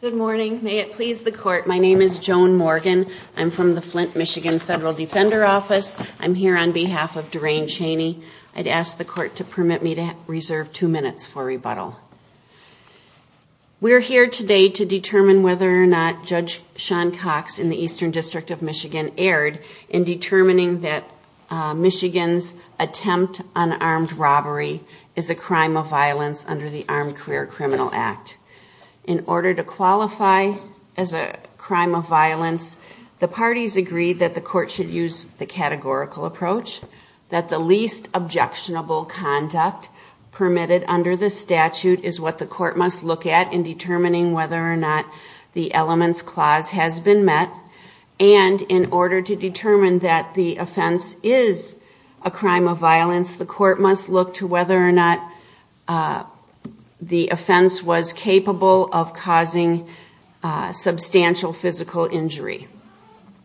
Good morning. May it please the court, my name is Joan Morgan. I'm from the Flint, Michigan Federal Defender Office. I'm here on behalf of Duryane Chaney. I'd ask the court to permit me to reserve two minutes for rebuttal. We're here today to determine whether or not Judge Sean Cox in the Eastern District of Michigan erred in determining that Michigan's attempt on armed robbery is a crime of violence under the Armed Career Criminal Act. In order to qualify as a crime of violence, the parties agreed that the court should use the categorical approach that the least objectionable conduct permitted under the statute is what the court must look at in determining whether or not the elements clause has been met. And in order to determine that the offense is a crime of violence, the court must look to whether or not the offense was capable of causing substantial physical injury.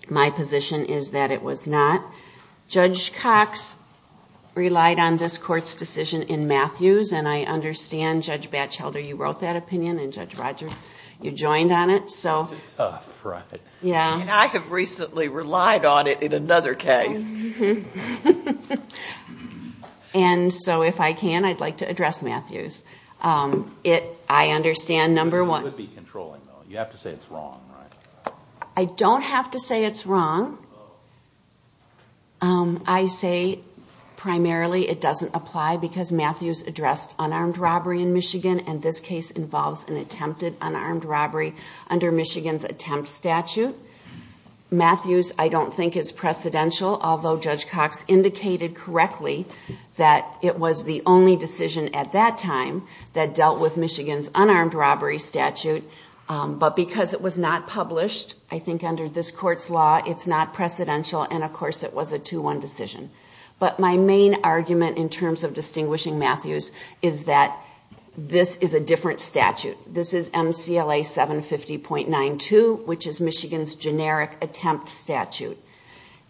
My position is that it was not. Judge Cox relied on this court's decision in Matthews, and I understand Judge Batchelder you wrote that opinion and Judge Rogers you joined on it. I have recently relied on it in another case. And so if I can, I'd like to address Matthews. I understand number one I don't have to say it's wrong. I say primarily it doesn't apply because Matthews addressed unarmed robbery in Michigan, and this case involves an attempted unarmed robbery under Michigan's attempt statute. Matthews I don't think is precedential, although Judge Cox indicated correctly that it was the only decision at that time that dealt with Michigan's unarmed robbery statute. But because it was not published, I think under this court's law, it's not precedential and of course it was a 2-1 decision. But my main argument in terms of distinguishing Matthews is that this is a different statute. This is MCLA 750.92, which is Michigan's generic attempt statute.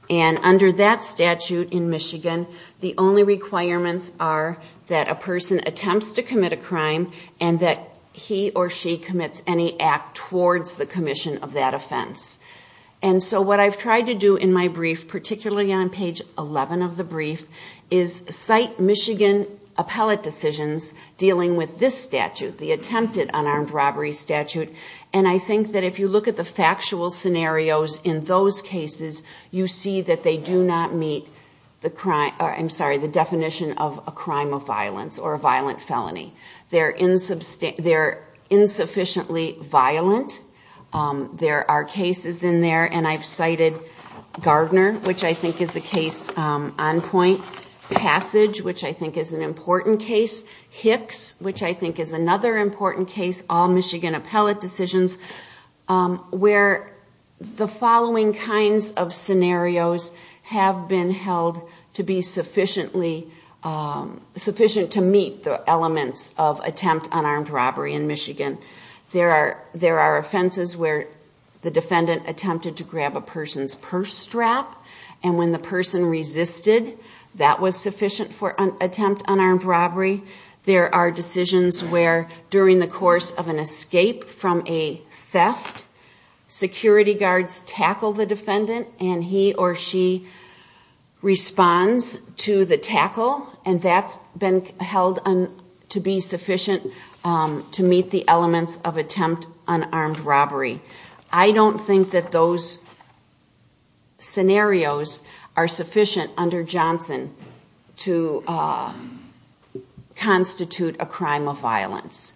And under that statute in Michigan, the only requirements are that a he or she commits any act towards the commission of that offense. And so what I've tried to do in my brief, particularly on page 11 of the brief, is cite Michigan appellate decisions dealing with this statute, the attempted unarmed robbery statute. And I think that if you look at the factual scenarios in those cases, you see that they do not meet the crime, I'm sorry, the definition of a crime of violence or a violent felony. They're insufficiently violent. There are cases in there, and I've cited Gardner, which I think is a case on point. Passage, which I think is an important case. Hicks, which I think is another important case, all Michigan appellate decisions, where the following kinds of scenarios have been held to be sufficiently sufficient to meet the elements of attempt unarmed robbery in Michigan. There are offenses where the defendant attempted to grab a person's purse strap, and when the person resisted, that was sufficient for attempt unarmed robbery. There are decisions where during the course of an escape from a theft, security guards tackle the defendant, and he or she responds to the tackle, and that's been held to be sufficient to meet the elements of attempt unarmed robbery. I don't think that those scenarios are sufficient under Johnson to constitute a crime of violence.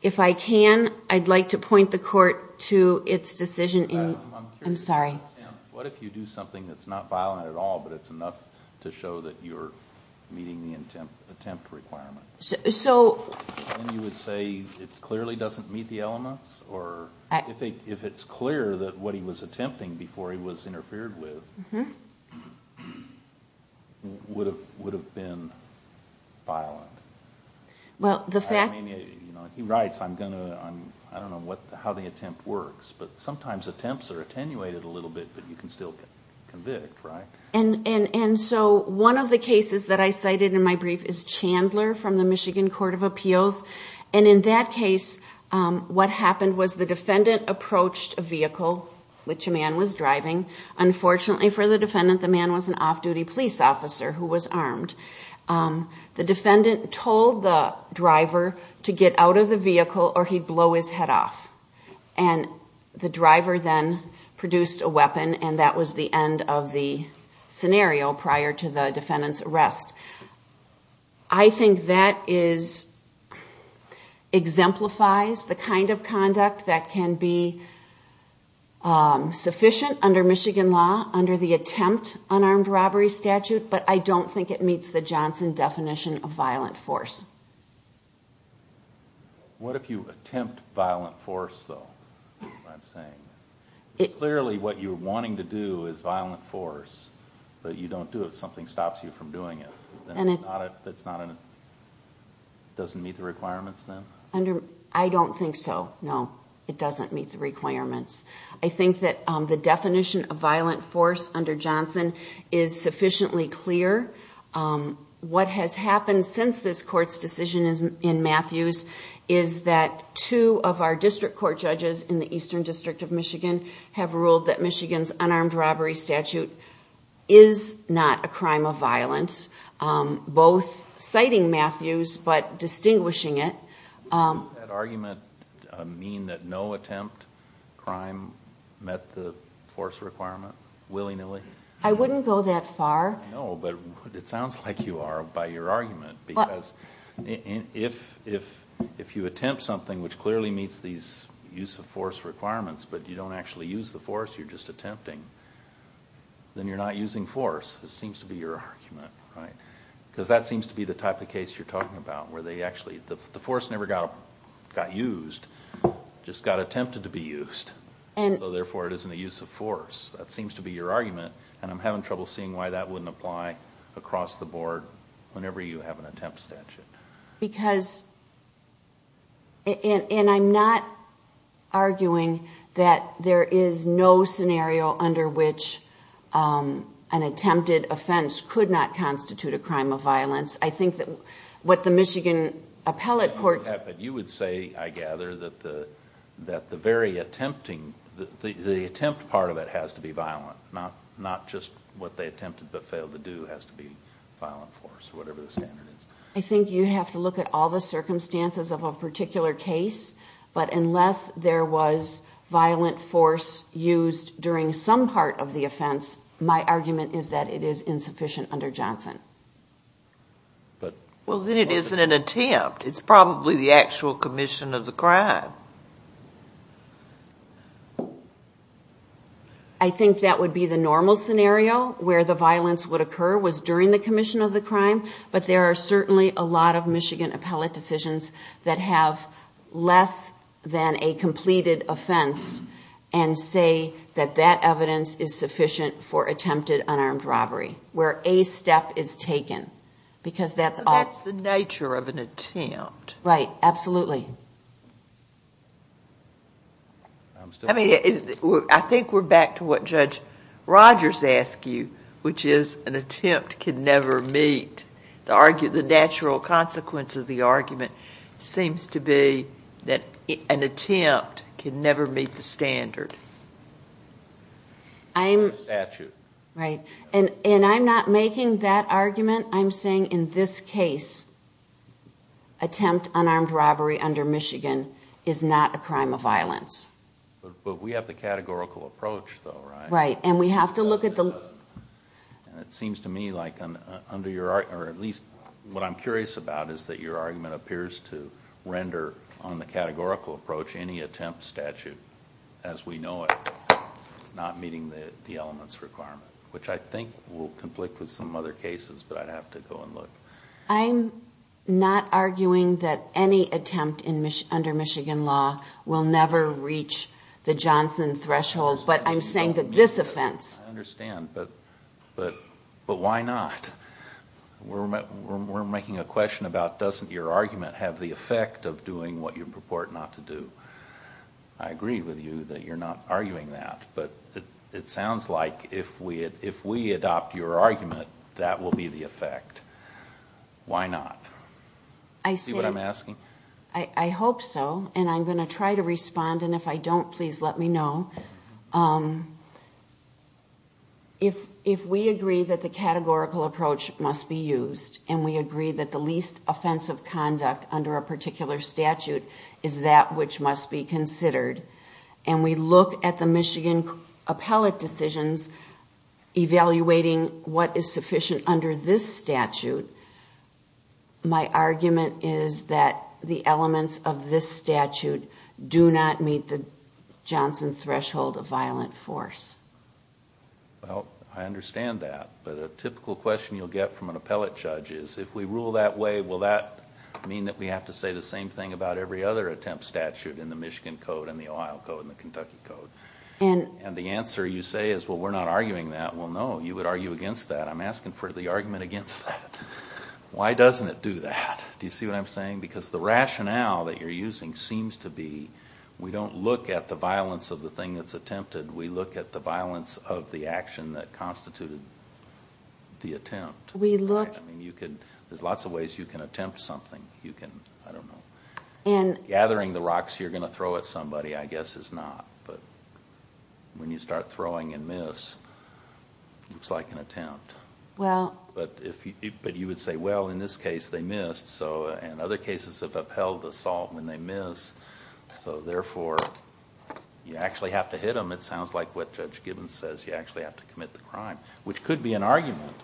If I can, I'd like to point the court to its decision in... I'm sorry. What if you do something that's not violent at all, but it's enough to show that you're meeting the attempt requirement? So... Then you would say it clearly doesn't meet the elements? Or if it's clear that what he was attempting before he was interfered with would have been violent? Well, the fact... He writes, I don't know how the attempt works, but sometimes attempts are attenuated a little bit, but you can still convict, right? And so one of the cases that I cited in my brief is Chandler from the Michigan Court of Appeals, and in that case, what happened was the defendant approached a vehicle, which a man was driving. Unfortunately for the defendant, the man was an off-duty police officer who was armed. The defendant told the driver to get out of the vehicle, or he'd blow his head off. And the driver then produced a weapon, and that was the end of the scenario prior to the defendant's arrest. I think that exemplifies the kind of conduct that can be sufficient under Michigan law, under the attempt unarmed robbery statute, but I don't think it meets the Johnson definition of violent force. What if you attempt violent force, though, is what I'm saying? Clearly what you're wanting to do is violent force, but you don't do it. Something stops you from doing it. That doesn't meet the requirements, then? I don't think so, no. It doesn't meet the requirements. I think that the definition of violent force under Johnson is sufficiently clear. What has happened since this Court's decision in Matthews is that two of our district court judges in the Eastern District of Michigan have ruled that Michigan's unarmed robbery statute is not a crime of violence, both citing Matthews but distinguishing it. Does that argument mean that no attempt crime met the force requirement, willy-nilly? I wouldn't go that far. No, but it sounds like you are by your argument, because if you attempt something which clearly meets these use of force requirements, but you don't actually use the force, you're just attempting, then you're not using force, it seems to be your argument. Because that seems to be the type of case you're talking about, where the force never got used, it just got attempted to be used, so therefore it isn't a use of force. That seems to be your argument, and I'm having trouble seeing why that wouldn't apply across the board whenever you have an attempt statute. I'm not arguing that there is no scenario under which an attempted offense could not be used. I think that what the Michigan Appellate Court... You would say, I gather, that the very attempt part of it has to be violent, not just what they attempted but failed to do has to be violent force, whatever the standard is. I think you have to look at all the circumstances of a particular case, but unless there was violent force used during some part of the offense, my argument is that it is insufficient under Johnson. Well, then it isn't an attempt, it's probably the actual commission of the crime. I think that would be the normal scenario, where the violence would occur was during the commission of the crime, but there are certainly a lot of Michigan appellate decisions that have less than a completed offense and say that that evidence is sufficient for attempted unarmed robbery, where a step is taken, because that's all... That's the nature of an attempt. Right, absolutely. I think we're back to what Judge Rogers asked you, which is an attempt can never meet. The natural consequence of the argument seems to be that an attempt can never meet the standard. Right, and I'm not making that argument, I'm saying in this case, attempt unarmed robbery under Michigan is not a crime of violence. But we have the categorical approach though, right? Right, and we have to look at the... It seems to me like under your, or at least what I'm curious about is that your argument appears to render on the categorical approach any attempt statute, as we know it, not meeting the elements requirement, which I think will conflict with some other cases, but I'd have to go and look. I'm not arguing that any attempt under Michigan law will never reach the Johnson threshold, but I'm saying that this offense... I understand, but why not? We're making a question about doesn't your argument have the effect of doing what you purport not to do. I agree with you that you're not arguing that, but it sounds like if we adopt your argument, that will be the effect. Why not? I say... Do you see what I'm asking? I hope so, and I'm going to try to respond, and if I don't, please let me know. If we agree that the categorical approach must be used, and we agree that the least offensive conduct under a particular statute is that which must be considered, and we look at the Michigan appellate decisions evaluating what is sufficient under this statute, my guess is that the elements of this statute do not meet the Johnson threshold of violent force. Well, I understand that, but a typical question you'll get from an appellate judge is, if we rule that way, will that mean that we have to say the same thing about every other attempt statute in the Michigan Code, and the Ohio Code, and the Kentucky Code? And the answer you say is, well, we're not arguing that. Well, no, you would argue against that. I'm asking for the argument against that. Why doesn't it do that? Do you see what I'm saying? Because the rationale that you're using seems to be, we don't look at the violence of the thing that's attempted, we look at the violence of the action that constituted the attempt. We look... There's lots of ways you can attempt something. I don't know. Gathering the rocks you're going to throw at somebody, I guess, is not, but when you start throwing and miss, it's like an attempt. Well... But you would say, well, in this case, they missed, and other cases have upheld the assault when they miss, so therefore, you actually have to hit them. It sounds like what Judge Gibbons says, you actually have to commit the crime, which could be an argument.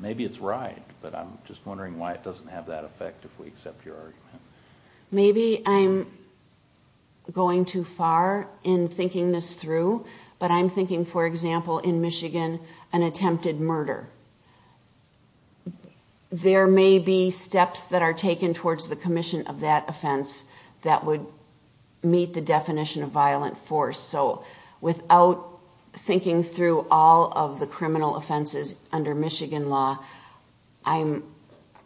Maybe it's right, but I'm just wondering why it doesn't have that effect if we accept your argument. Maybe I'm going too far in thinking this through, but I'm thinking, for example, in Michigan, an attempted murder. There may be steps that are taken towards the commission of that offense that would meet the definition of violent force, so without thinking through all of the criminal offenses under Michigan law, I'm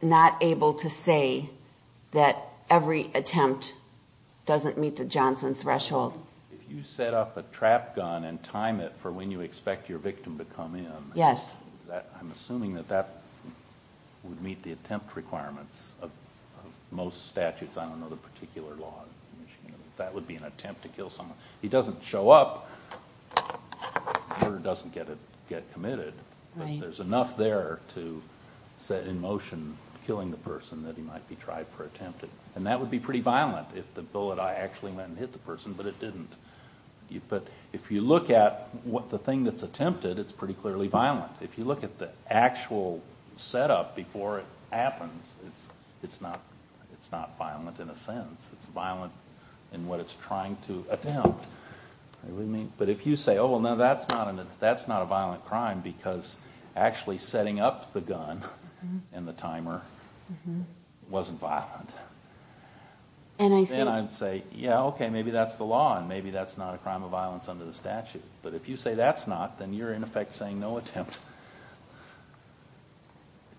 not able to say that every attempt doesn't meet the Johnson threshold. If you set up a trap gun and time it for when you expect your victim to come in, I'm assuming that that would meet the attempt requirements of most statutes. I don't know the particular law in Michigan, but that would be an attempt to kill someone. He doesn't show up, the murder doesn't get committed, but there's enough there to set in motion killing the person that he might be tried for attempted, and that would be pretty violent if the bullet actually went and hit the person, but it didn't. If you look at the thing that's attempted, it's pretty clearly violent. If you look at the actual setup before it happens, it's not violent in a sense. It's violent in what it's trying to attempt. If you say, that's not a violent crime because actually setting up the gun and the timer wasn't violent, then I'd say, yeah, okay, maybe that's the law and maybe that's not a crime of violence under the statute, but if you say that's not, then you're in effect saying no attempt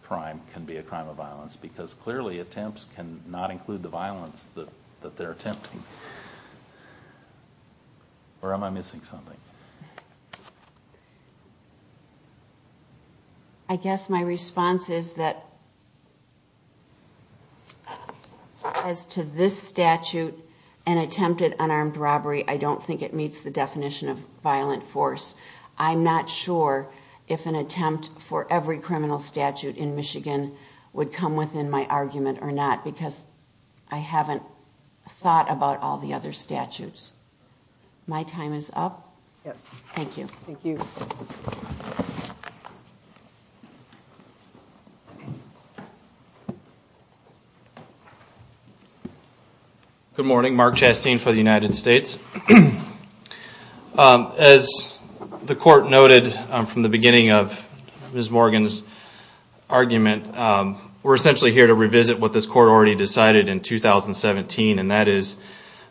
crime can be a crime of violence because clearly attempts cannot include the violence that they're attempting. Or am I missing something? I guess my response is that as to this statute and attempted unarmed robbery, I don't think it meets the definition of violent force. I'm not sure if an attempt for every criminal statute in Michigan would come within my argument or not because I haven't thought about all the other statutes. My time is up. Yes. Thank you. Thank you. Good morning. Mark Chastain for the United States. As the court noted from the beginning of Ms. Morgan's argument, we're essentially here to revisit what this court already decided in 2017 and that is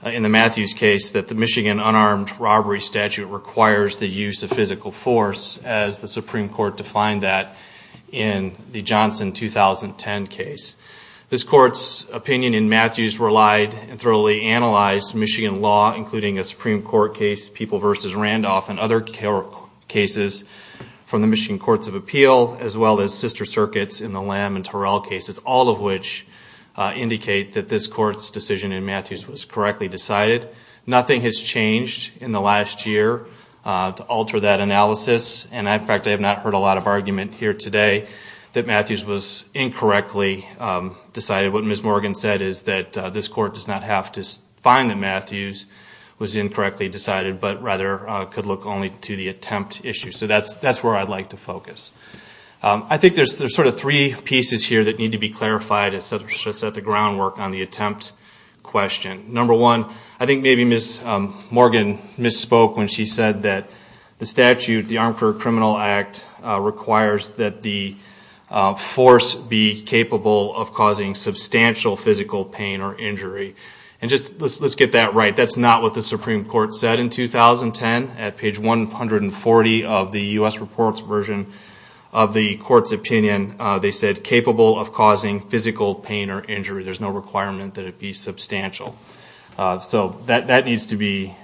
in the Matthews case that the Michigan unarmed robbery statute requires the use of physical force as the Supreme Court defined that in the Johnson 2010 case. This court's opinion in Matthews relied and thoroughly analyzed Michigan law including a Supreme Court case, People v. Randolph and other cases from the Michigan Courts of Appeal as well as sister circuits in the Lamb and Terrell cases, all of which indicate that this court's decision in Matthews was correctly decided. Nothing has changed in the last year to alter that analysis and in fact I have not heard a lot of argument here today that Matthews was incorrectly decided. What Ms. Morgan said is that this court does not have to find that Matthews was incorrectly decided but rather could look only to the attempt issue. So that's where I'd like to focus. I think there's sort of three pieces here that need to be clarified to set the groundwork on the attempt question. Number one, I think maybe Ms. Morgan misspoke when she said that the statute, the Armed Criminal Act requires that the force be capable of causing substantial physical pain or injury. And just let's get that right, that's not what the Supreme Court said in 2010. At page 140 of the U.S. Reports version of the court's opinion, they said capable of causing physical pain or injury. There's no requirement that it be substantial. So that needs to be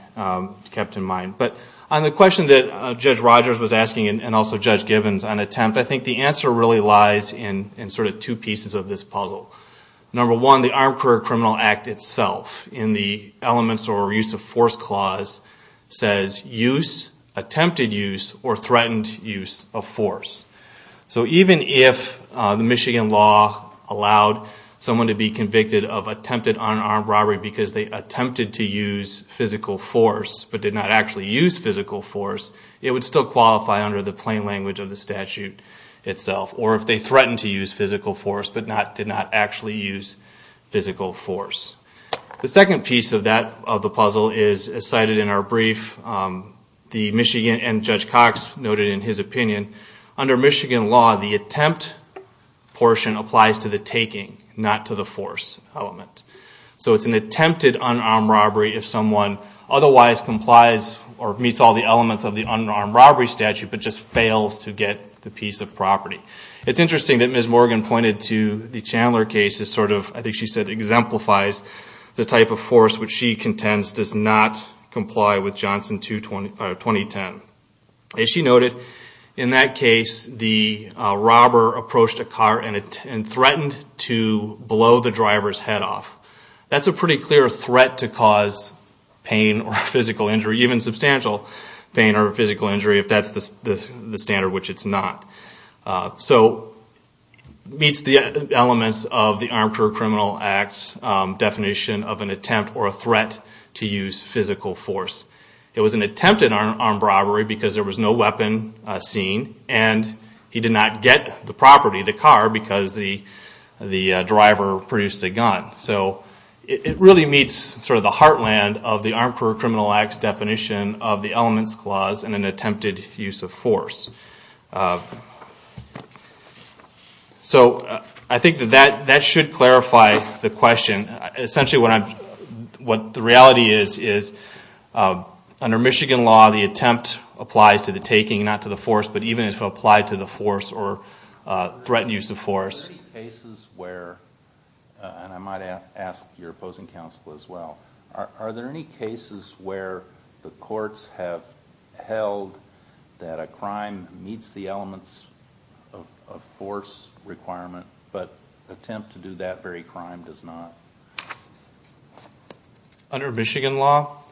kept in mind. But on the question that Judge Rogers was asking and also Judge Gibbons on attempt, I think the answer really lies in sort of two pieces of this puzzle. Number one, the Armed Career Criminal Act itself in the elements or use of force clause says use, attempted use or threatened use of force. So even if the Michigan law allowed someone to be convicted of attempted unarmed robbery because they attempted to use physical force but did not actually use physical force, it would still qualify under the plain language of the statute itself. Or if they threatened to use physical force but did not actually use physical force. The second piece of the puzzle is cited in our brief. The Michigan and Judge Cox noted in his opinion, under Michigan law the attempt portion applies to the taking, not to the force element. So it's an attempted unarmed robbery if someone otherwise complies or meets all the elements of the unarmed robbery statute but just fails to get the piece of property. It's interesting that Ms. Morgan pointed to the Chandler case as sort of, I think she said exemplifies the type of force which she contends does not comply with Johnson 2010. As she noted, in that case the robber approached a car and threatened to blow the driver's head off. That's a pretty clear threat to cause pain or physical injury, even substantial pain or physical injury if that's the standard which it's not. So it meets the elements of the Armed Criminal Act's definition of an attempt or a threat to use physical force. It was an attempted unarmed robbery because there was no weapon seen and he did not get the property, the car, because the driver produced a gun. So it really meets sort of the heartland of the Armed Criminal Act's definition of the elements clause and an attempted use of force. So I think that that should clarify the question. Essentially what the reality is, is under Michigan law the attempt applies to the taking, not to the force, but even if it applied to the force or threatened use of force. Are there any cases where, and I might ask your opposing counsel as well, are there any cases where the courts have held that a crime meets the elements of force requirement but attempt to do that very crime does not? Under Michigan law?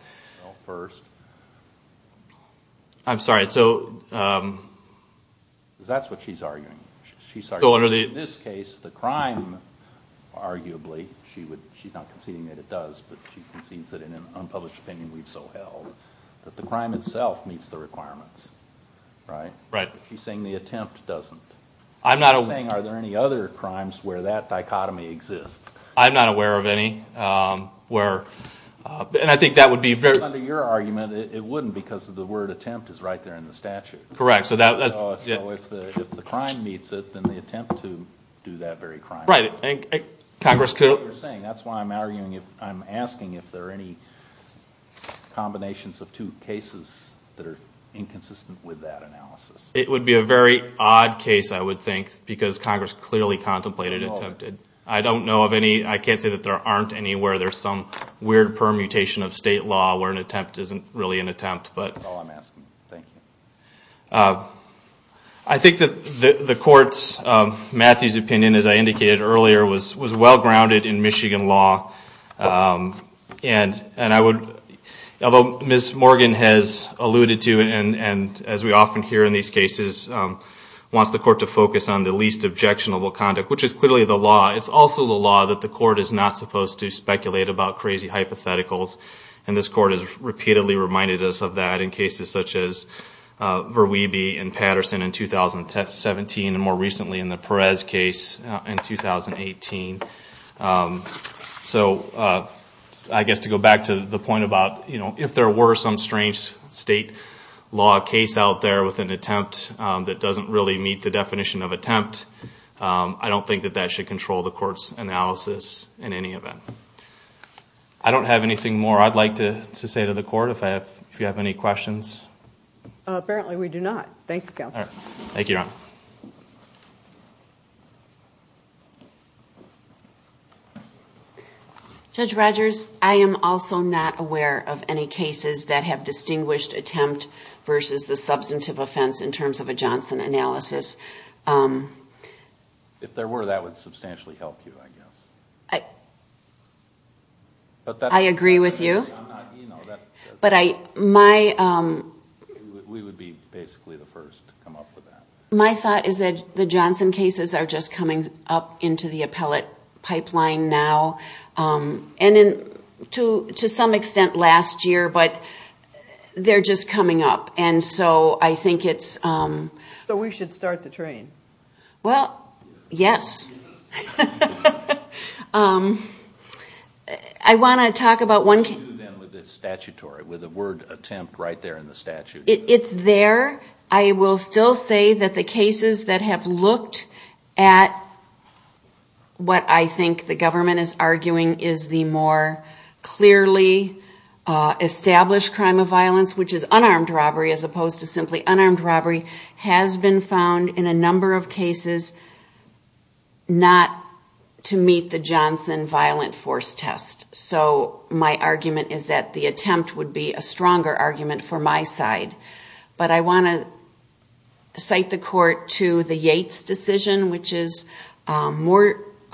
I'm sorry, so... That's what she's arguing. She's arguing that in this case the crime arguably, she's not conceding that it does, but she concedes that in an unpublished opinion we've so held, that the crime itself meets the requirements. Right? Right. She's saying the attempt doesn't. I'm not aware... She's saying are there any other crimes where that dichotomy exists? I'm not aware of any. And I think that would be very... Under your argument it wouldn't because the word attempt is right there in the statute. Correct. So if the crime meets it, then the attempt to do that very crime... Right. That's what you're saying. That's why I'm asking if there are any combinations of two cases that are inconsistent with that analysis. It would be a very odd case, I would think, because Congress clearly contemplated attempted. I don't know of any. I can't say that there aren't any where there's some weird permutation of state law where an attempt isn't really an attempt, but... That's all I'm asking. Thank you. I think that the court's, Matthew's opinion as I indicated earlier, was well grounded in Michigan law. And I would, although Ms. Morgan has alluded to and as we often hear in these cases, wants the court to focus on the least objectionable conduct, which is clearly the law, it's also the law that the court is not supposed to speculate about crazy hypotheticals. And this court has repeatedly reminded us of that in cases such as Verweebe and Patterson in 2017 and more recently in the Perez case in 2018. So I guess to go back to the point about if there were some strange state law case out there with an attempt that doesn't really meet the definition of attempt, I don't think that that should control the court's analysis in any event. I don't have anything more I'd like to say to the court if you have any questions. Apparently we do not. Thank you, Counselor. Thank you, Your Honor. Judge Rogers, I am also not aware of any cases that have distinguished attempt versus the substantive offense in terms of a Johnson analysis. If there were, that would substantially help you, I guess. I agree with you. We would be basically the first to come up with that. My thought is that the Johnson cases are just coming up into the appellate pipeline now. And to some extent last year, but they're just coming up. And so I think it's... So we should start the train. Well, yes. I want to talk about one... With the word attempt right there in the statute. It's there. I will still say that the cases that have looked at what I think the government is arguing is the more clearly established crime of violence, which is unarmed robbery as opposed to simply unarmed robbery, has been found in a number of cases not to meet the Johnson violent force test. So my argument is that the attempt would be a stronger argument for my side. But I want to cite the court to the Yates decision, which is a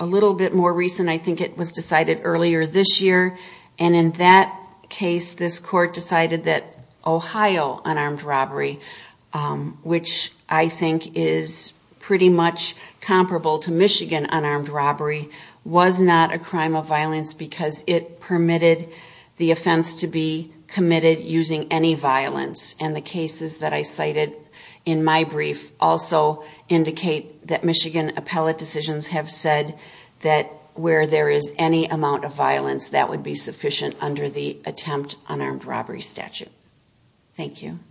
little bit more recent. I think it was decided earlier this year. And in that case, this court decided that Ohio unarmed robbery, which I think is pretty much comparable to the Johnson case, it permitted the offense to be committed using any violence. And the cases that I cited in my brief also indicate that Michigan appellate decisions have said that where there is any amount of violence, that would be sufficient under the attempt unarmed robbery statute. Thank you.